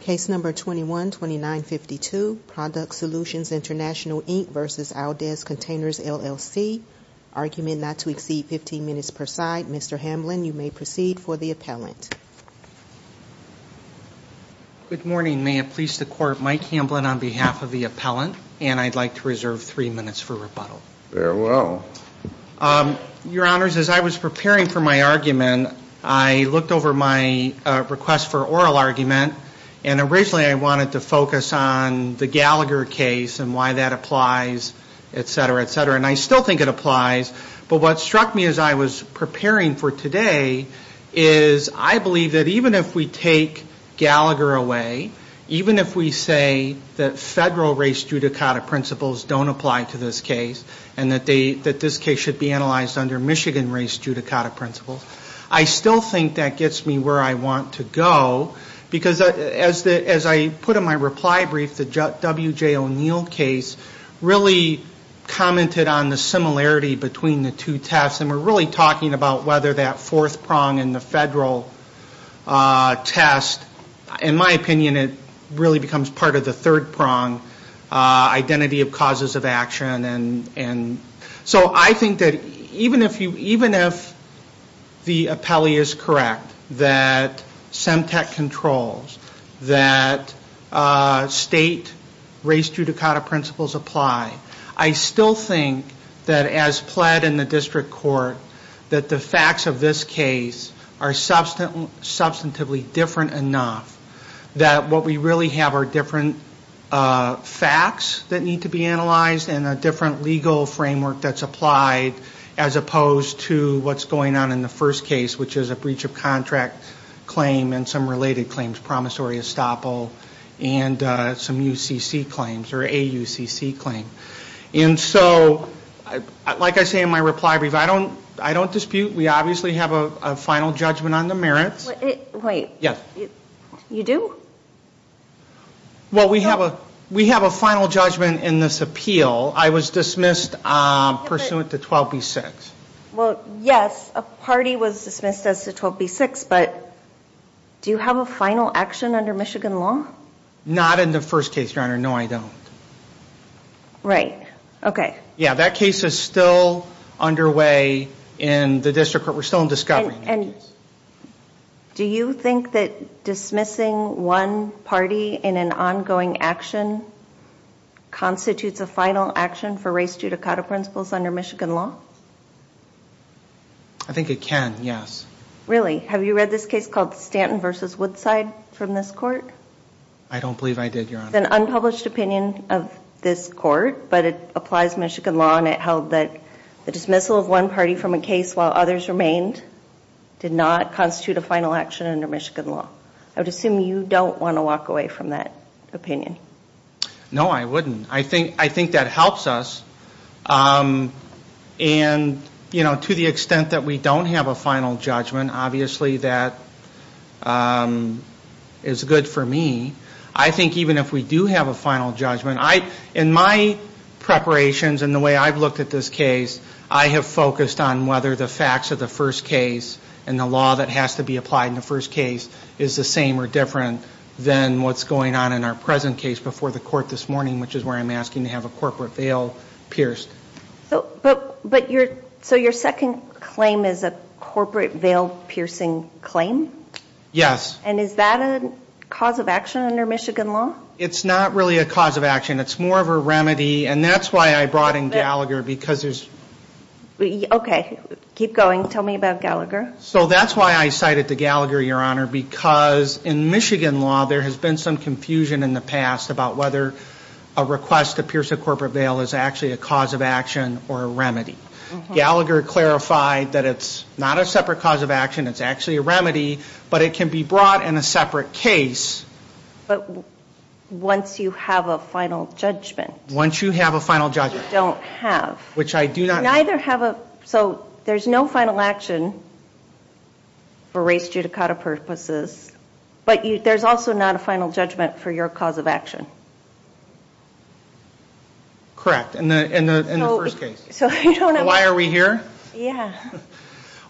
Case number 21-2952, Product Solutions Intl v. Aldez Containers LLC. Argument not to exceed 15 minutes per side. Mr. Hamblin, you may proceed for the appellant. Good morning. May it please the court, Mike Hamblin on behalf of the appellant, and I'd like to reserve three minutes for rebuttal. Very well. Your honors, as I was preparing for my argument, I looked over my request for oral argument, and originally I wanted to focus on the Gallagher case and why that applies, etc., etc., and I still think it applies, but what struck me as I was preparing for today is I believe that even if we take Gallagher away, even if we say that federal race judicata principles don't apply to this case and that this case should be analyzed under Michigan race judicata principles, I still think that gets me where I want to go because as I put in my reply brief, the W.J. O'Neill case really commented on the similarity between the two tests, and we're really talking about whether that fourth prong in the federal test, in my opinion, it really becomes part of the third prong, identity of causes of action, and so I think that even if the appellee is correct that SEMTEC controls, that state race judicata principles apply, I still think that as pled in the district court that the facts of this case are substantively different enough that what we really have are different facts that need to be analyzed and a different legal framework that's applied as opposed to what's going on in the first case, which is a breach of contract claim and some related claims, promissory estoppel, and some UCC claims or AUCC claim. And so like I say in my reply brief, I don't dispute, we obviously have a final judgment on the merits. Yes. You do? Well, we have a final judgment in this appeal. I was dismissed pursuant to 12B6. Well, yes, a party was dismissed as to 12B6, but do you have a final action under Michigan law? Not in the first case, Your Honor. No, I don't. Right. Okay. Yeah, that case is still underway in the district court. We're still in discovery. And do you think that dismissing one party in an ongoing action constitutes a final action for race due to coda principles under Michigan law? I think it can, yes. Really? Have you read this case called Stanton v. Woodside from this court? I don't believe I did, Your Honor. It's an unpublished opinion of this court, but it applies Michigan law and it held that the dismissal of one party from a case while others remained. Did not constitute a final action under Michigan law. I would assume you don't want to walk away from that opinion. No, I wouldn't. I think that helps us. And, you know, to the extent that we don't have a final judgment, obviously that is good for me. I think even if we do have a final judgment, in my preparations and the way I've looked at this case, I have focused on whether the facts of the first case and the law that has to be applied in the first case is the same or different than what's going on in our present case before the court this morning, which is where I'm asking to have a corporate veil pierced. So your second claim is a corporate veil piercing claim? Yes. And is that a cause of action under Michigan law? It's more of a remedy. And that's why I brought in Gallagher because there's. Okay. Keep going. Tell me about Gallagher. So that's why I cited to Gallagher, Your Honor, because in Michigan law, there has been some confusion in the past about whether a request to pierce a corporate veil is actually a cause of action or a remedy. Gallagher clarified that it's not a separate cause of action. It's actually a remedy. But it can be brought in a separate case. But once you have a final judgment. Once you have a final judgment. You don't have. Which I do not. Neither have a. So there's no final action for race judicata purposes. But there's also not a final judgment for your cause of action. Correct. In the first case. So you don't have. Why are we here? Yeah.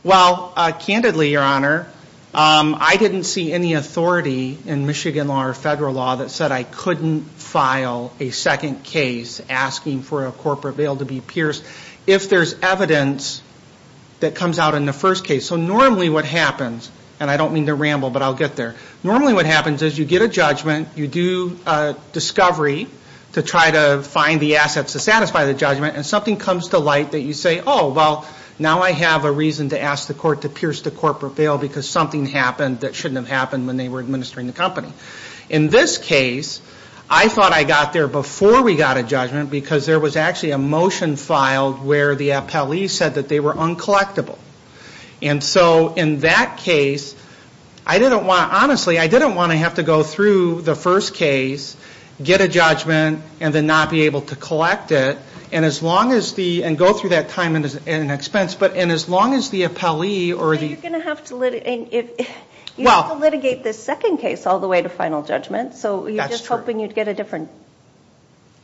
Well, candidly, Your Honor, I didn't see any authority in Michigan law or federal law that said I couldn't file a second case asking for a corporate veil to be pierced. If there's evidence that comes out in the first case. So normally what happens. And I don't mean to ramble, but I'll get there. Normally what happens is you get a judgment. You do a discovery to try to find the assets to satisfy the judgment. And something comes to light that you say, oh, well, now I have a reason to ask the court to pierce the corporate veil because something happened that shouldn't have happened when they were administering the company. In this case, I thought I got there before we got a judgment because there was actually a motion filed where the appellee said that they were uncollectible. And so in that case, I didn't want to, honestly, I didn't want to have to go through the first case, get a judgment, and then not be able to collect it. And as long as the, and go through that time and expense, but in as long as the appellee or the. You're going to have to, you have to litigate the second case all the way to final judgment. So you're just hoping you'd get a different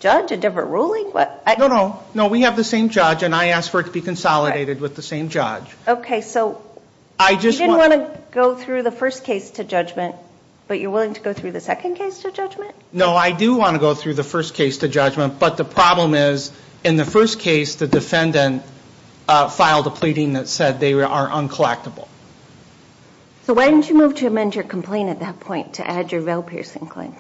judge, a different ruling? What? No, no, no, we have the same judge, and I asked for it to be consolidated with the same judge. Okay, so you didn't want to go through the first case to judgment, but you're willing to go through the second case to judgment? No, I do want to go through the first case to judgment, but the problem is in the first case, the defendant filed a pleading that said they are uncollectible. So why didn't you move to amend your complaint at that point to add your Vail-Piercing Claim?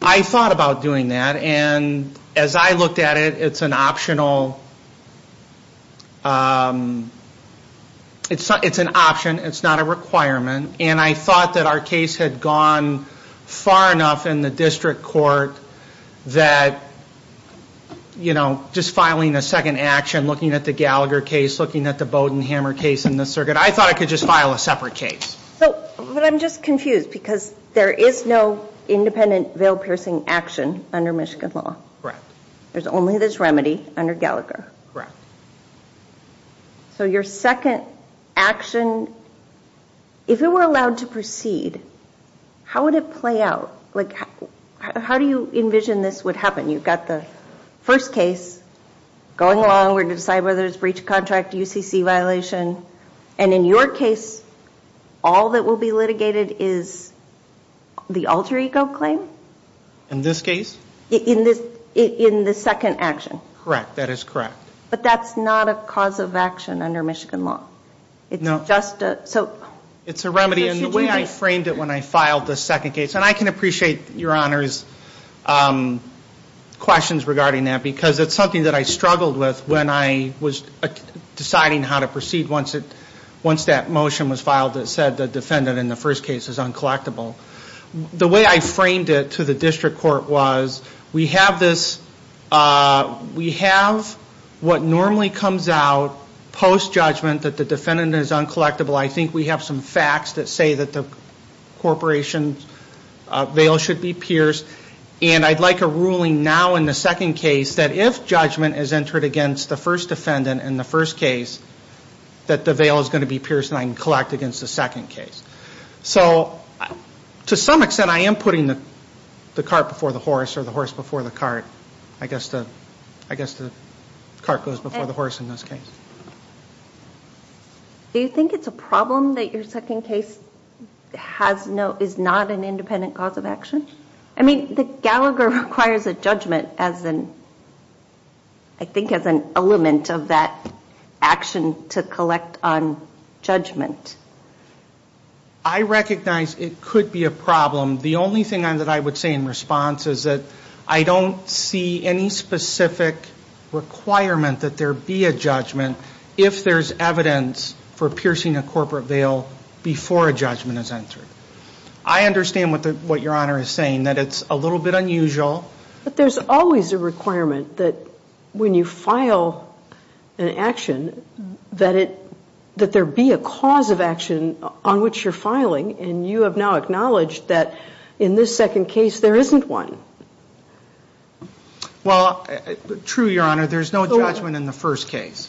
I thought about doing that, and as I looked at it, it's an optional, it's an option, it's not a requirement, and I thought that our case had gone far enough in the district court that, you know, just filing a second action, looking at the Gallagher case, looking at the Bowden-Hammer case in the circuit. I thought I could just file a separate case. So, but I'm just confused, because there is no independent Vail-Piercing action under Michigan law. Correct. There's only this remedy under Gallagher. Correct. So your second action, if it were allowed to proceed, how would it play out? Like, how do you envision this would happen? You've got the first case, going along, we're going to decide whether it's breach of contract, UCC violation, and in your case, all that will be litigated is the alter ego claim? In this case? In this, in the second action. Correct, that is correct. But that's not a cause of action under Michigan law. No. It's just a, so. It's a remedy, and the way I framed it when I filed the second case, and I can appreciate your Honor's questions regarding that, because it's something that I struggled with when I was deciding how to proceed once that motion was filed that said the defendant in the first case is uncollectible. The way I framed it to the district court was, we have this, we have what normally comes out post-judgment that the defendant is uncollectible. I think we have some facts that say that the corporation's veil should be pierced, and I'd like a ruling now in the second case that if judgment is entered against the first defendant in the first case, that the veil is going to be pierced and I can collect against the second case. So, to some extent, I am putting the cart before the horse, or the horse before the cart. I guess the cart goes before the horse in this case. Do you think it's a problem that your second case has no, is not an independent cause of action? I mean, Gallagher requires a judgment as an, I think as an element of that action to collect on judgment. I recognize it could be a problem. The only thing that I would say in response is that I don't see any specific requirement that there be a judgment if there's evidence for piercing a corporate veil before a judgment is entered. I understand what your Honor is saying, that it's a little bit unusual. But there's always a requirement that when you file an action, that it, that there be a cause of action on which you're filing, and you have now acknowledged that in this second case, there isn't one. Well, true, your Honor. There's no judgment in the first case,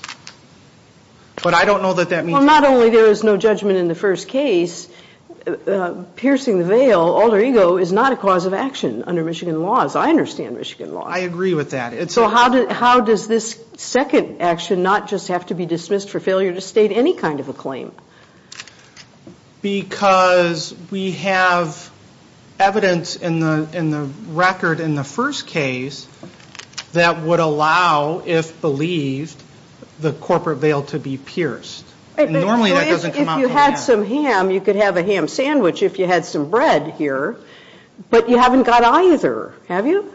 but I don't know that that means. Well, not only there is no judgment in the first case, piercing the veil, alter ego, is not a cause of action under Michigan laws. I understand Michigan laws. I agree with that. It's a. So how does this second action not just have to be dismissed for failure to state any kind of a claim? Because we have evidence in the record in the first case that would allow, if believed, the corporate veil to be pierced. Normally that doesn't come out. If you had some ham, you could have a ham sandwich if you had some bread here. But you haven't got either, have you?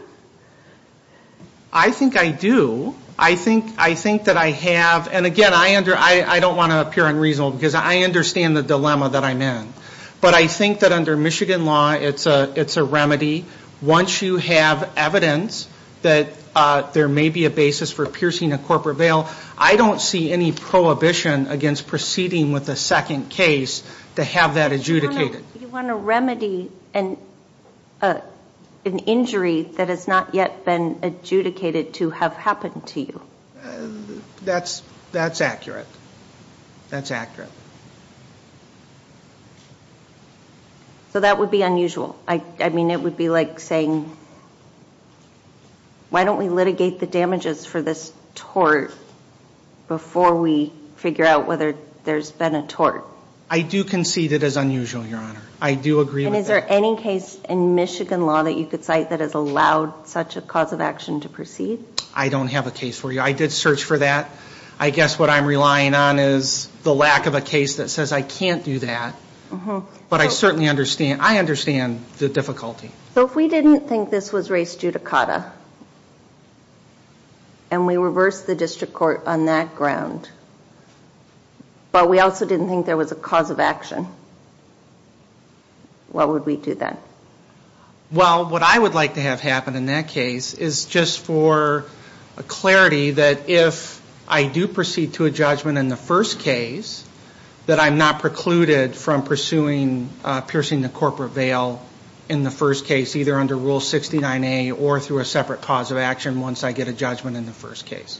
I think I do. I think, I think that I have, and again, I under, I don't want to appear unreasonable because I understand the dilemma that I'm in. But I think that under Michigan law, it's a, it's a remedy. Once you have evidence that there may be a basis for piercing a corporate veil, I don't see any prohibition against proceeding with a second case to have that adjudicated. You want to remedy an, an injury that has not yet been adjudicated to have happened to you. That's, that's accurate. That's accurate. So that would be unusual. I, I mean, it would be like saying, why don't we litigate the damages for this tort? Before we figure out whether there's been a tort. I do concede it is unusual, your honor. I do agree with that. And is there any case in Michigan law that you could cite that has allowed such a cause of action to proceed? I don't have a case for you. I did search for that. I guess what I'm relying on is the lack of a case that says I can't do that. Mm-hmm. But I certainly understand, I understand the difficulty. So if we didn't think this was race judicata, and we reversed the district court on that ground, but we also didn't think there was a cause of action, what would we do then? Well, what I would like to have happen in that case is just for a clarity that if I do proceed to a judgment in the first case, that I'm not precluded from pursuing piercing the corporate veil in the first case, either under Rule 69A or through a separate cause of action once I get a judgment in the first case.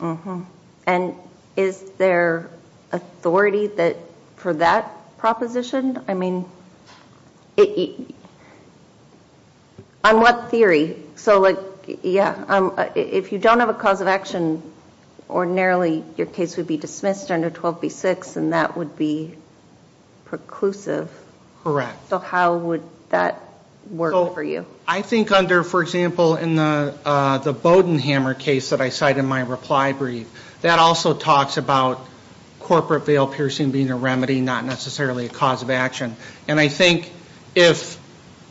Mm-hmm. And is there authority for that proposition? I mean, on what theory? So like, yeah, if you don't have a cause of action, ordinarily your case would be dismissed under 12B6, and that would be preclusive. Correct. So how would that work for you? I think under, for example, in the Bodenhammer case that I cite in my reply brief, that also talks about corporate veil piercing being a remedy, not necessarily a cause of action. And I think if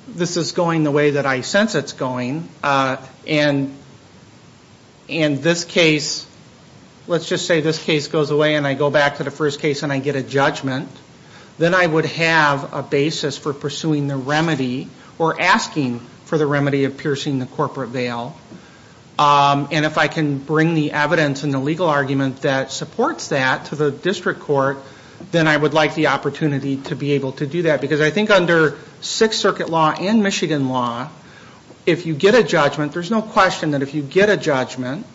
this is going the way that I sense it's going, and this case, let's just say this case goes away and I go back to the first case and I get a judgment, then I would have a basis for pursuing the remedy or asking for the remedy of piercing the corporate veil. And if I can bring the evidence and the legal argument that supports that to the district court, then I would like the opportunity to be able to do that. Because I think under Sixth Circuit law and Michigan law, if you get a judgment, there's no question that if you get a judgment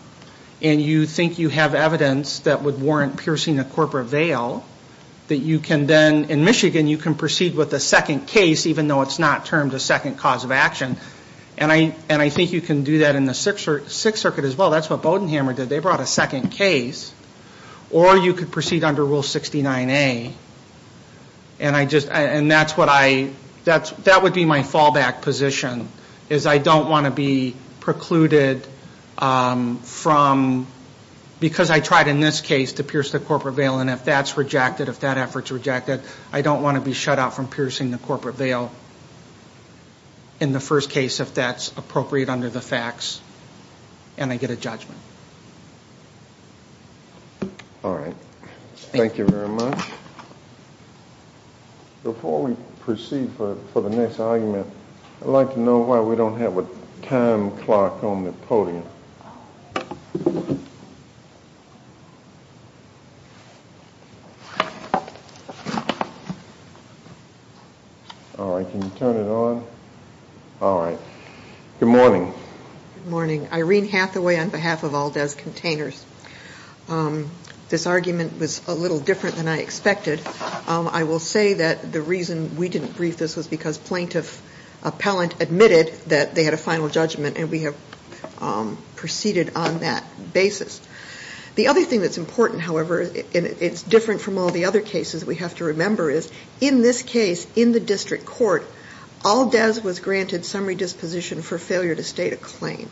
and you think you have evidence that would warrant piercing a corporate veil, that you can then, in Michigan, you can proceed with a second case even though it's not termed a second cause of action. And I think you can do that in the Sixth Circuit as well. That's what Bodenhammer did. They brought a second case. Or you could proceed under Rule 69A. And I just, and that's what I, that would be my fallback position, is I don't want to be precluded from, because I tried in this case to pierce the corporate veil and if that's rejected, if that effort's rejected, I don't want to be shut out from piercing the corporate veil in the first case if that's appropriate under the facts and I get a judgment. All right. Thank you very much. Before we proceed for the next argument, I'd like to know why we don't have a time clock on the podium. All right. Can you turn it on? All right. Good morning. Good morning. Irene Hathaway on behalf of Aldez Containers. This argument was a little different than I expected. I will say that the reason we didn't brief this was because plaintiff appellant admitted that they had a final judgment and we have proceeded on that basis. The other thing that's important, however, and it's different from all the other cases we have to remember is, in this case, in the district court, Aldez was granted summary disposition for failure to state a claim.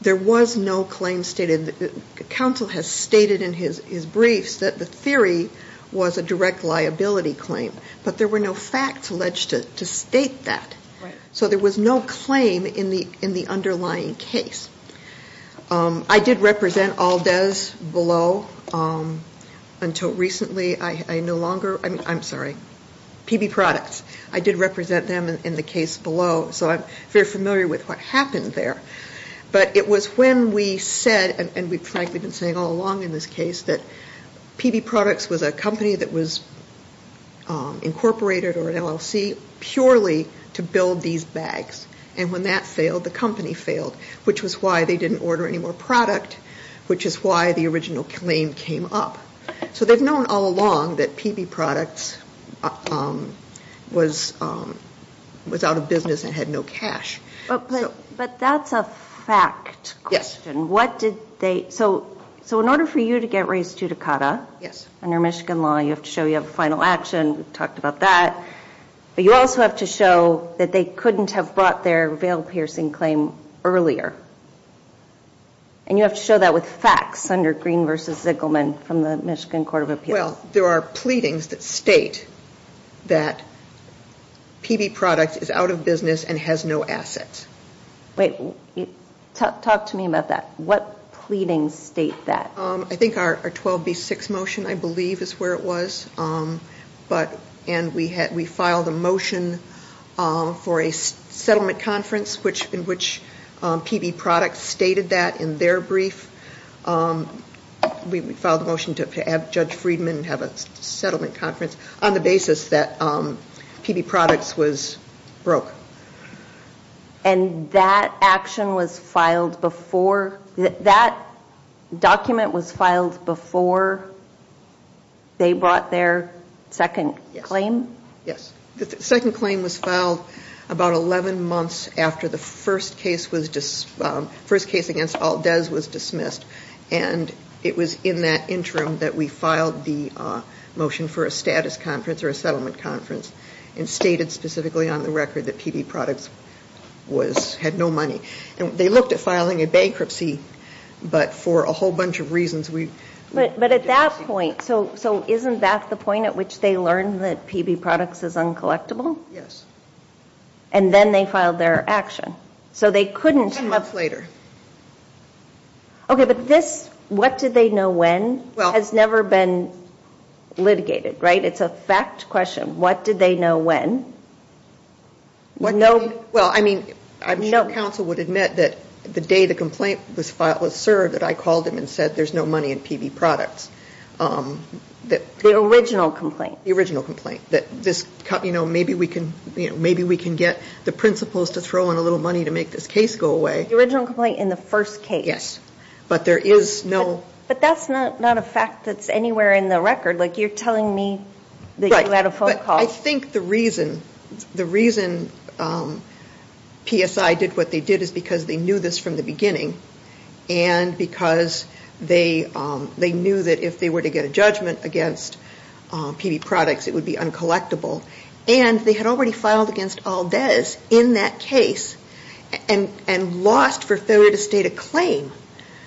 There was no claim stated. The counsel has stated in his briefs that the theory was a direct liability claim, but there were no facts alleged to state that. So there was no claim in the underlying case. I did represent Aldez below until recently. I no longer, I'm sorry, PB Products. I did represent them in the case below. So I'm very familiar with what happened there. But it was when we said, and we've frankly been saying all along in this case, that PB Products was a company that was incorporated or an LLC purely to build these bags. And when that failed, the company failed, which was why they didn't order any more product, which is why the original claim came up. So they've known all along that PB Products was out of business and had no cash. But that's a fact question. What did they, so in order for you to get raised to Dakota, under Michigan law, you have to show you have a final action, we've talked about that, but you also have to show that they couldn't have brought their veil-piercing claim earlier. And you have to show that with facts under Green v. Ziggelman from the Michigan Court of Appeals. Well, there are pleadings that state that PB Products is out of business and has no assets. Wait, talk to me about that. What pleadings state that? I think our 12B6 motion, I believe, is where it was. But, and we had, we filed a motion for a settlement conference which, in which PB Products stated that in their brief. We filed a motion to have Judge Friedman have a settlement conference on the basis that PB Products was broke. And that action was filed before, that document was filed before they brought their second claim? Yes. The second claim was filed about 11 months after the first case was, first case against Aldez was dismissed. And it was in that interim that we filed the motion for a status conference or a settlement conference and stated specifically on the record that PB Products was, had no money. And they looked at filing a bankruptcy, but for a whole bunch of reasons we. But at that point, so isn't that the point at which they learned that PB Products is uncollectible? Yes. And then they filed their action. So they couldn't. Ten months later. Okay, but this, what did they know when, has never been litigated, right? It's a fact question. What did they know when? No. Well, I mean, I'm sure counsel would admit that the day the complaint was filed, was served that I called them and said there's no money in PB Products. That. The original complaint. The original complaint. That this, you know, maybe we can, you know, maybe we can get the principals to throw in a little money to make this case go away. The original complaint in the first case. Yes. But there is no. But that's not a fact that's anywhere in the record. Like you're telling me that you had a phone call. Right. But I think the reason, the reason PSI did what they did is because they knew this from the beginning. And because they, they knew that if they were to get a judgment against PB Products it would be uncollectible. And they had already filed against Aldez in that case and lost for failure to state a claim.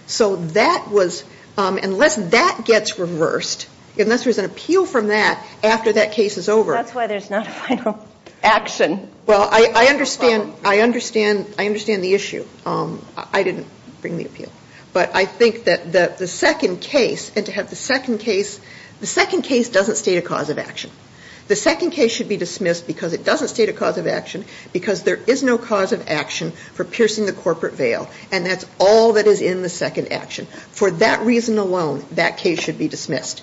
So that was, unless that gets reversed, unless there's an appeal from that after that case is over. That's why there's not a final action. Well, I understand, I understand, I understand the issue. I didn't bring the appeal. But I think that the second case, and to have the second case, the second case doesn't state a cause of action. The second case should be dismissed because it doesn't state a cause of action because there is no cause of action for piercing the corporate veil. And that's all that is in the second action. For that reason alone, that case should be dismissed.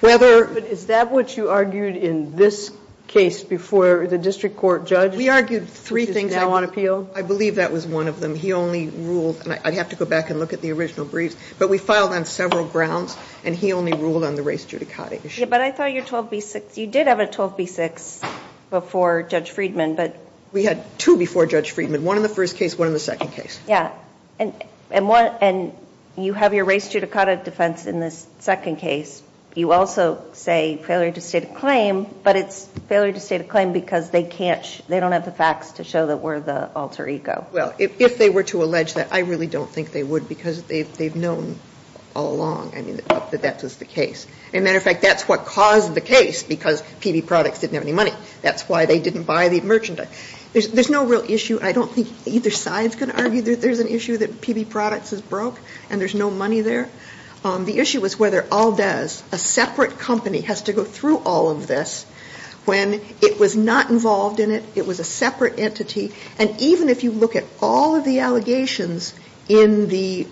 Whether. But is that what you argued in this case before the district court judge? We argued three things. Now on appeal. I believe that was one of them. He only ruled, and I'd have to go back and look at the original briefs, but we filed on several grounds and he only ruled on the race judicata issue. But I thought your 12B6, you did have a 12B6 before Judge Friedman, but. We had two before Judge Friedman. One in the first case, one in the second case. Yeah. And you have your race judicata defense in this second case. You also say failure to state a claim, but it's failure to state a claim because they don't have the facts to show that we're the alter ego. Well, if they were to allege that, I really don't think they would because they've known all along that that was the case. As a matter of fact, that's what caused the case because PB Products didn't have any money. That's why they didn't buy the merchandise. There's no real issue. I don't think either side's going to argue that there's an issue that PB Products is broke and there's no money there. The issue was whether Aldez, a separate company, has to go through all of this when it was not involved in it, it was a separate entity. And even if you look at all of the allegations in the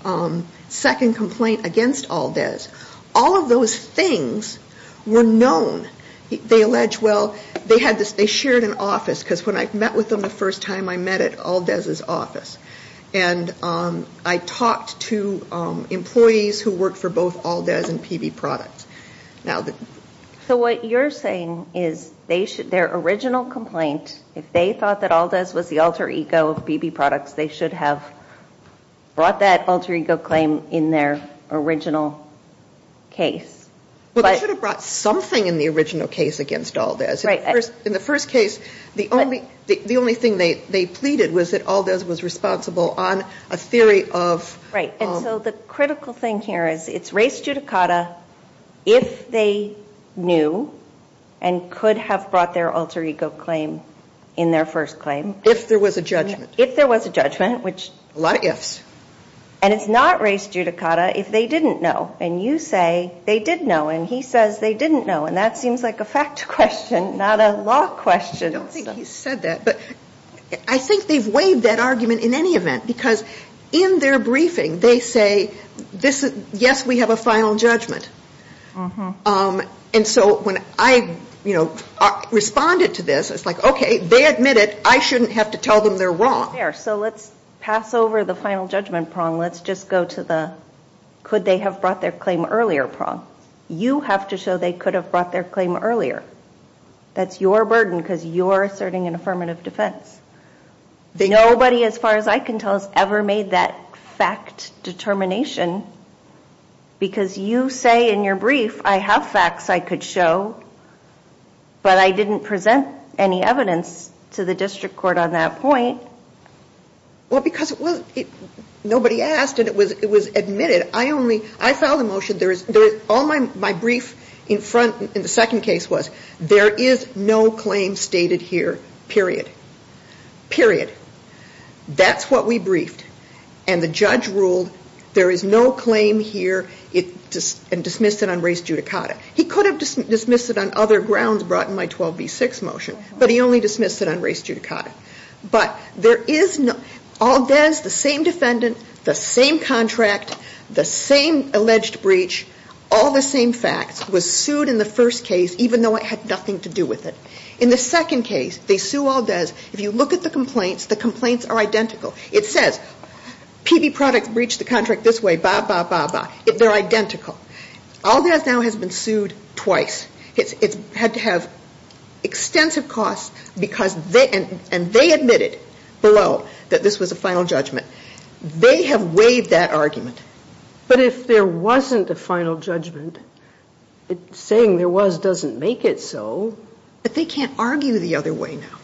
second complaint against Aldez, all of those things were known. They allege, well, they shared an office because when I met with them the first time I met at Aldez's office, and I talked to employees who worked for both Aldez and PB Products. Now the So what you're saying is their original complaint, if they thought that Aldez was the alter ego of PB Products, they should have brought that alter ego claim in their original case. Well, they should have brought something in the original case against Aldez. In the first case, the only thing they pleaded was that Aldez was responsible on a theory of Right. And so the critical thing here is it's res judicata if they knew and could have brought their alter ego claim in their first claim. If there was a judgment. If there was a judgment, which A lot of ifs. And it's not res judicata if they didn't know. And you say they did know. And he says they didn't know. And that seems like a fact question, not a law question. I don't think he said that. But I think they've waived that argument in any event. Because in their briefing, they say, yes, we have a final judgment. And so when I, you know, responded to this, it's like, okay, they admit it. I shouldn't have to tell them they're wrong. There. So let's pass over the final judgment prong. Let's just go to the could they have brought their claim earlier prong. You have to show they could have brought their claim earlier. That's your burden because you're asserting an affirmative defense. They nobody, as far as I can tell, has ever made that fact determination. Because you say in your brief, I have facts I could show. But I didn't present any evidence to the district court on that point. Well, because it was nobody asked and it was it was admitted. I only I filed a motion. There is all my brief in front in the second case was there is no claim stated here, period. Period. That's what we briefed. And the judge ruled there is no claim here. It just dismissed it on race judicata. He could have dismissed it on other grounds brought in my 12B6 motion. But he only dismissed it on race judicata. But there is no Aldez, the same defendant, the same contract, the same alleged breach. All the same facts was sued in the first case, even though it had nothing to do with it. In the second case, they sue Aldez. If you look at the complaints, the complaints are identical. It says PB product breached the contract this way. Bah, bah, bah, bah. They're identical. Aldez now has been sued twice. It's had to have extensive costs because they and they admitted below that this was a final judgment. They have waived that argument. But if there wasn't a final judgment, saying there was doesn't make it so. But they can't argue the other way now.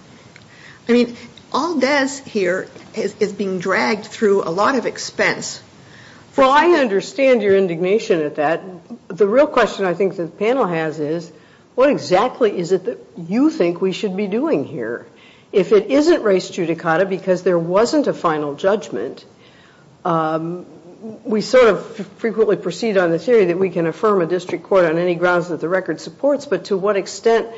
I mean, Aldez here is being dragged through a lot of expense. Well, I understand your indignation at that. The real question I think the panel has is, what exactly is it that you think we should be doing here? If it isn't race judicata because there wasn't a final judgment, we sort of frequently proceed on the theory that we can affirm a district court on any grounds that the record supports. But to what extent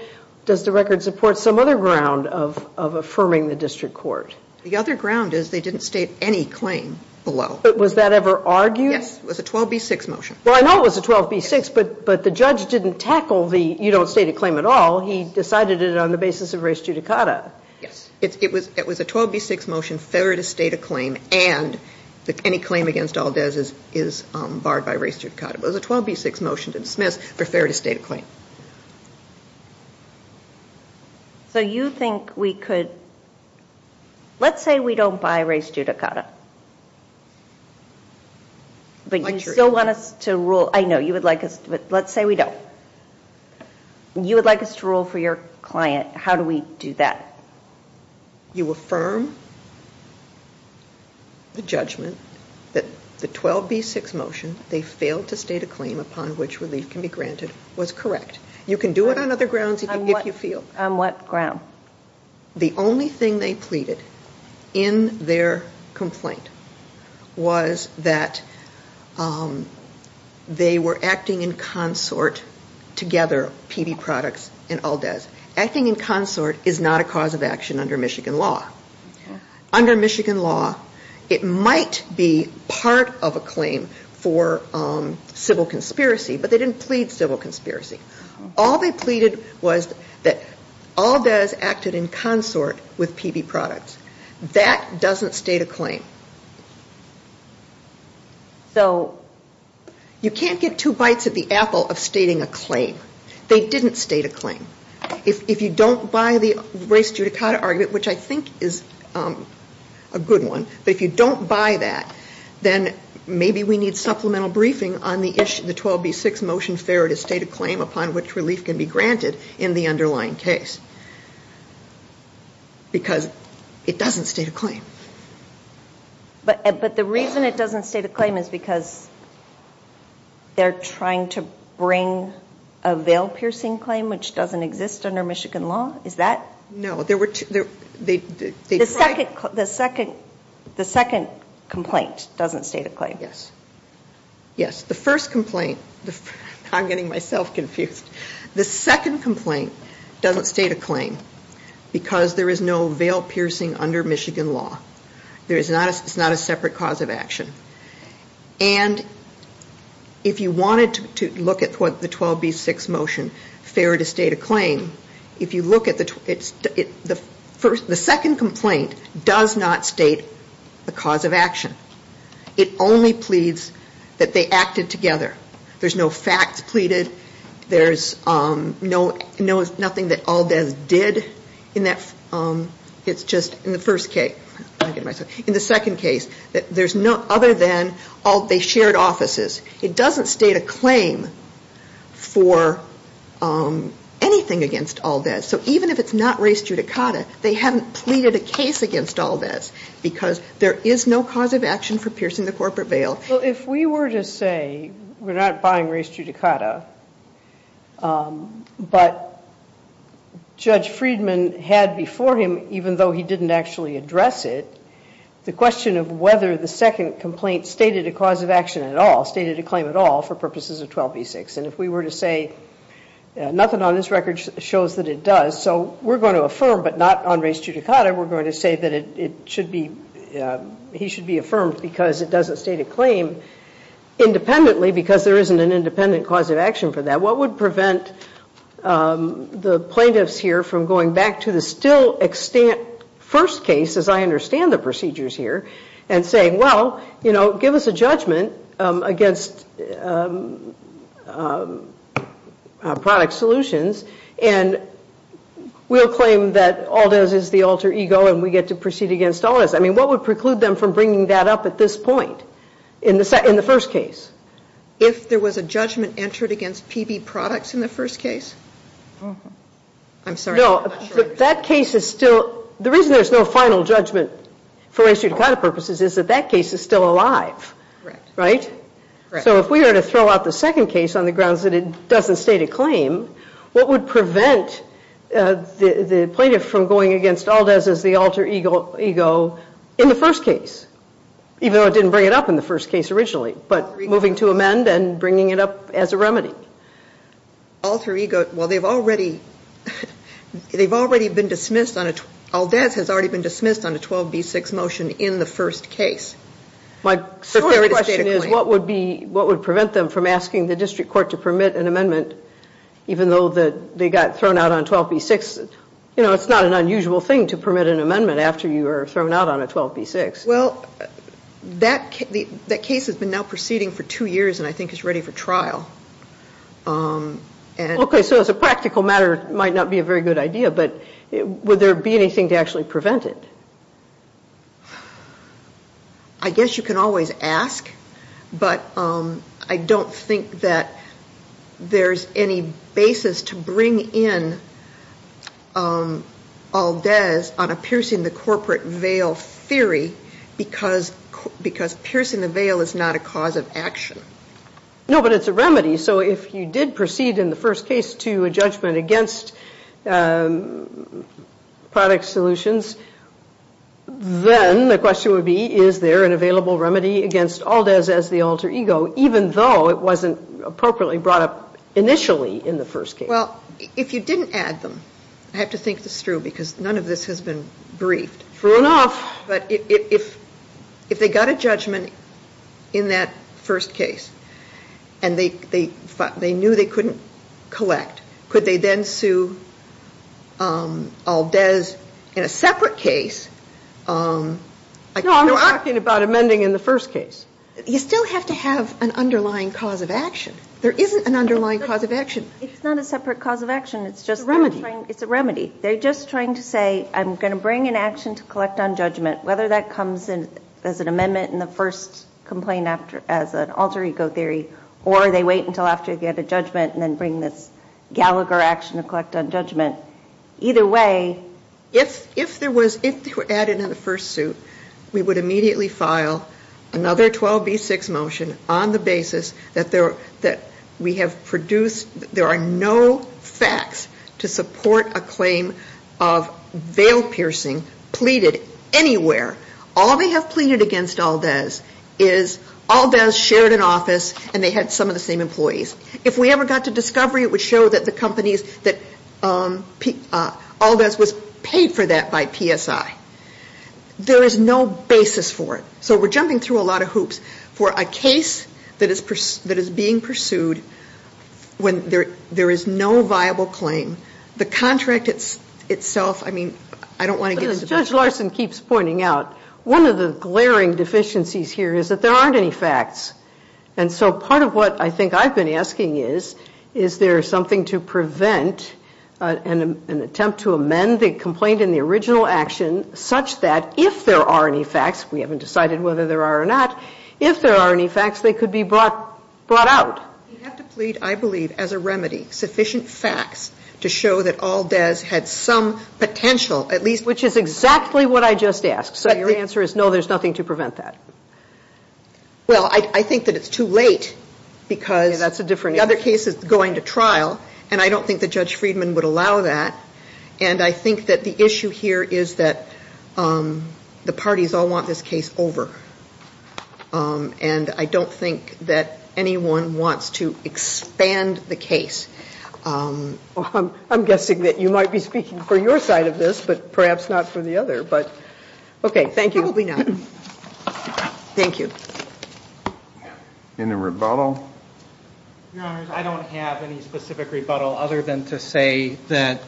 does the record support some other ground of affirming the district court? The other ground is they didn't state any claim below. But was that ever argued? Yes, it was a 12B6 motion. Well, I know it was a 12B6, but the judge didn't tackle the you don't state a claim at all. He decided it on the basis of race judicata. Yes, it was a 12B6 motion fair to state a claim. And any claim against Aldez is barred by race judicata. It was a 12B6 motion to dismiss, but fair to state a claim. So you think we could, let's say we don't buy race judicata. But you still want us to rule, I know you would like us to, but let's say we don't. You would like us to rule for your client. How do we do that? You affirm the judgment that the 12B6 motion, they failed to state a claim upon which relief can be granted, was correct. You can do it on other grounds if you feel. On what ground? The only thing they pleaded in their complaint was that they were acting in consort together, PB Products and Aldez. Acting in consort is not a cause of action under Michigan law. Under Michigan law, it might be part of a claim for civil conspiracy, but they didn't plead civil conspiracy. All they pleaded was that Aldez acted in consort with PB Products. That doesn't state a claim. So you can't get two bites of the apple of stating a claim. They didn't state a claim. If you don't buy the race judicata argument, which I think is a good one, but if you don't buy that, then maybe we need supplemental briefing on the 12B6 motion, fair to state a claim upon which relief can be granted in the underlying case. Because it doesn't state a claim. But the reason it doesn't state a claim is because they're trying to bring a veil-piercing claim, which doesn't exist under Michigan law? Is that? No. The second complaint doesn't state a claim. Yes. Yes. The first complaint, I'm getting myself confused. The second complaint doesn't state a claim because there is no veil-piercing under Michigan law. It's not a separate cause of action. And if you wanted to look at the 12B6 motion, fair to state a claim, if you look at it, the second complaint does not state a cause of action. It only pleads that they acted together. There's no facts pleaded. There's nothing that Aldez did in that. It's just in the first case. In the second case, other than they shared offices. It doesn't state a claim for anything against Aldez. So even if it's not race judicata, they haven't pleaded a case against Aldez because there is no cause of action for piercing the corporate veil. Well, if we were to say we're not buying race judicata, but Judge Friedman had before him, even though he didn't actually address it, the question of whether the second complaint stated a cause of action at all, stated a claim at all for purposes of 12B6. And if we were to say nothing on this record shows that it does. So we're going to affirm, but not on race judicata. We're going to say that he should be affirmed because it doesn't state a claim independently because there isn't an independent cause of action for that. What would prevent the plaintiffs here from going back to the still first case, as I understand the procedures here, and saying, well, you know, give us a judgment against product solutions. And we'll claim that Aldez is the alter ego and we get to proceed against Aldez. I mean, what would preclude them from bringing that up at this point in the first case? If there was a judgment entered against PB products in the first case? I'm sorry. That case is still, the reason there's no final judgment for race judicata purposes is that that case is still alive, right? So if we were to throw out the second case on the grounds that it doesn't state a claim, what would prevent the plaintiff from going against Aldez as the alter ego in the first case? Even though it didn't bring it up in the first case originally, alter ego, well, they've already been dismissed on it. Aldez has already been dismissed on a 12B6 motion in the first case. My question is, what would prevent them from asking the district court to permit an amendment even though they got thrown out on 12B6? You know, it's not an unusual thing to permit an amendment after you are thrown out on a 12B6. Well, that case has been now proceeding for two years and I think is ready for trial. Okay, so as a practical matter, it might not be a very good idea, but would there be anything to actually prevent it? I guess you can always ask, but I don't think that there's any basis to bring in Aldez on a piercing the corporate veil theory because piercing the veil is not a cause of action. No, but it's a remedy. So if you did proceed in the first case to a judgment against product solutions, then the question would be, is there an available remedy against Aldez as the alter ego, even though it wasn't appropriately brought up initially in the first case? Well, if you didn't add them, I have to think this through because none of this has been briefed. True enough. But if they got a judgment in that first case and they knew they couldn't collect, could they then sue Aldez in a separate case? No, I'm talking about amending in the first case. You still have to have an underlying cause of action. There isn't an underlying cause of action. It's not a separate cause of action. It's just a remedy. They're just trying to say, I'm going to bring an action to collect on judgment, whether that comes in as an amendment in the first complaint as an alter ego theory, or they wait until after they get a judgment and then bring this Gallagher action to collect on judgment. Either way, if they were added in the first suit, we would immediately file another 12B6 motion on the basis that there are no facts to support a claim of veil piercing pleaded anywhere. All they have pleaded against Aldez is Aldez shared an office and they had some of the same employees. If we ever got to discovery, it would show that Aldez was paid for that by PSI. There is no basis for it. We're jumping through a lot of hoops for a case that is being pursued when there is no viable claim. The contract itself, I mean, I don't want to get into- Judge Larson keeps pointing out, one of the glaring deficiencies here is that there aren't any facts. Part of what I think I've been asking is, is there something to prevent an attempt to amend the complaint in the original action such that if there are any facts, we haven't decided whether there are or not. If there are any facts, they could be brought out. You have to plead, I believe, as a remedy, sufficient facts to show that Aldez had some potential, at least- Which is exactly what I just asked. So your answer is, no, there's nothing to prevent that. Well, I think that it's too late because- That's a different- The other case is going to trial and I don't think that Judge Friedman would allow that. And I think that the issue here is that the parties all want this case over. And I don't think that anyone wants to expand the case. I'm guessing that you might be speaking for your side of this, but perhaps not for the other. But, okay, thank you. Probably not. Thank you. Any rebuttal? Your Honor, I don't have any specific rebuttal other than to say that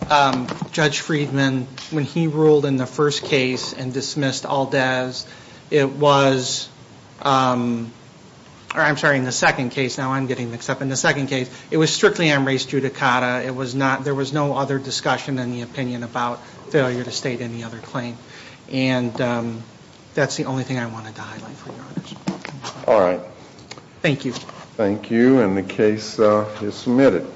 Judge Friedman, when he ruled in the first case and dismissed Aldez, it was- I'm sorry, in the second case. Now I'm getting mixed up. In the second case, it was strictly on race judicata. It was not- There was no other discussion in the opinion about failure to state any other claim. And that's the only thing I wanted to highlight, Your Honor. All right. Thank you. Thank you. And the case is submitted.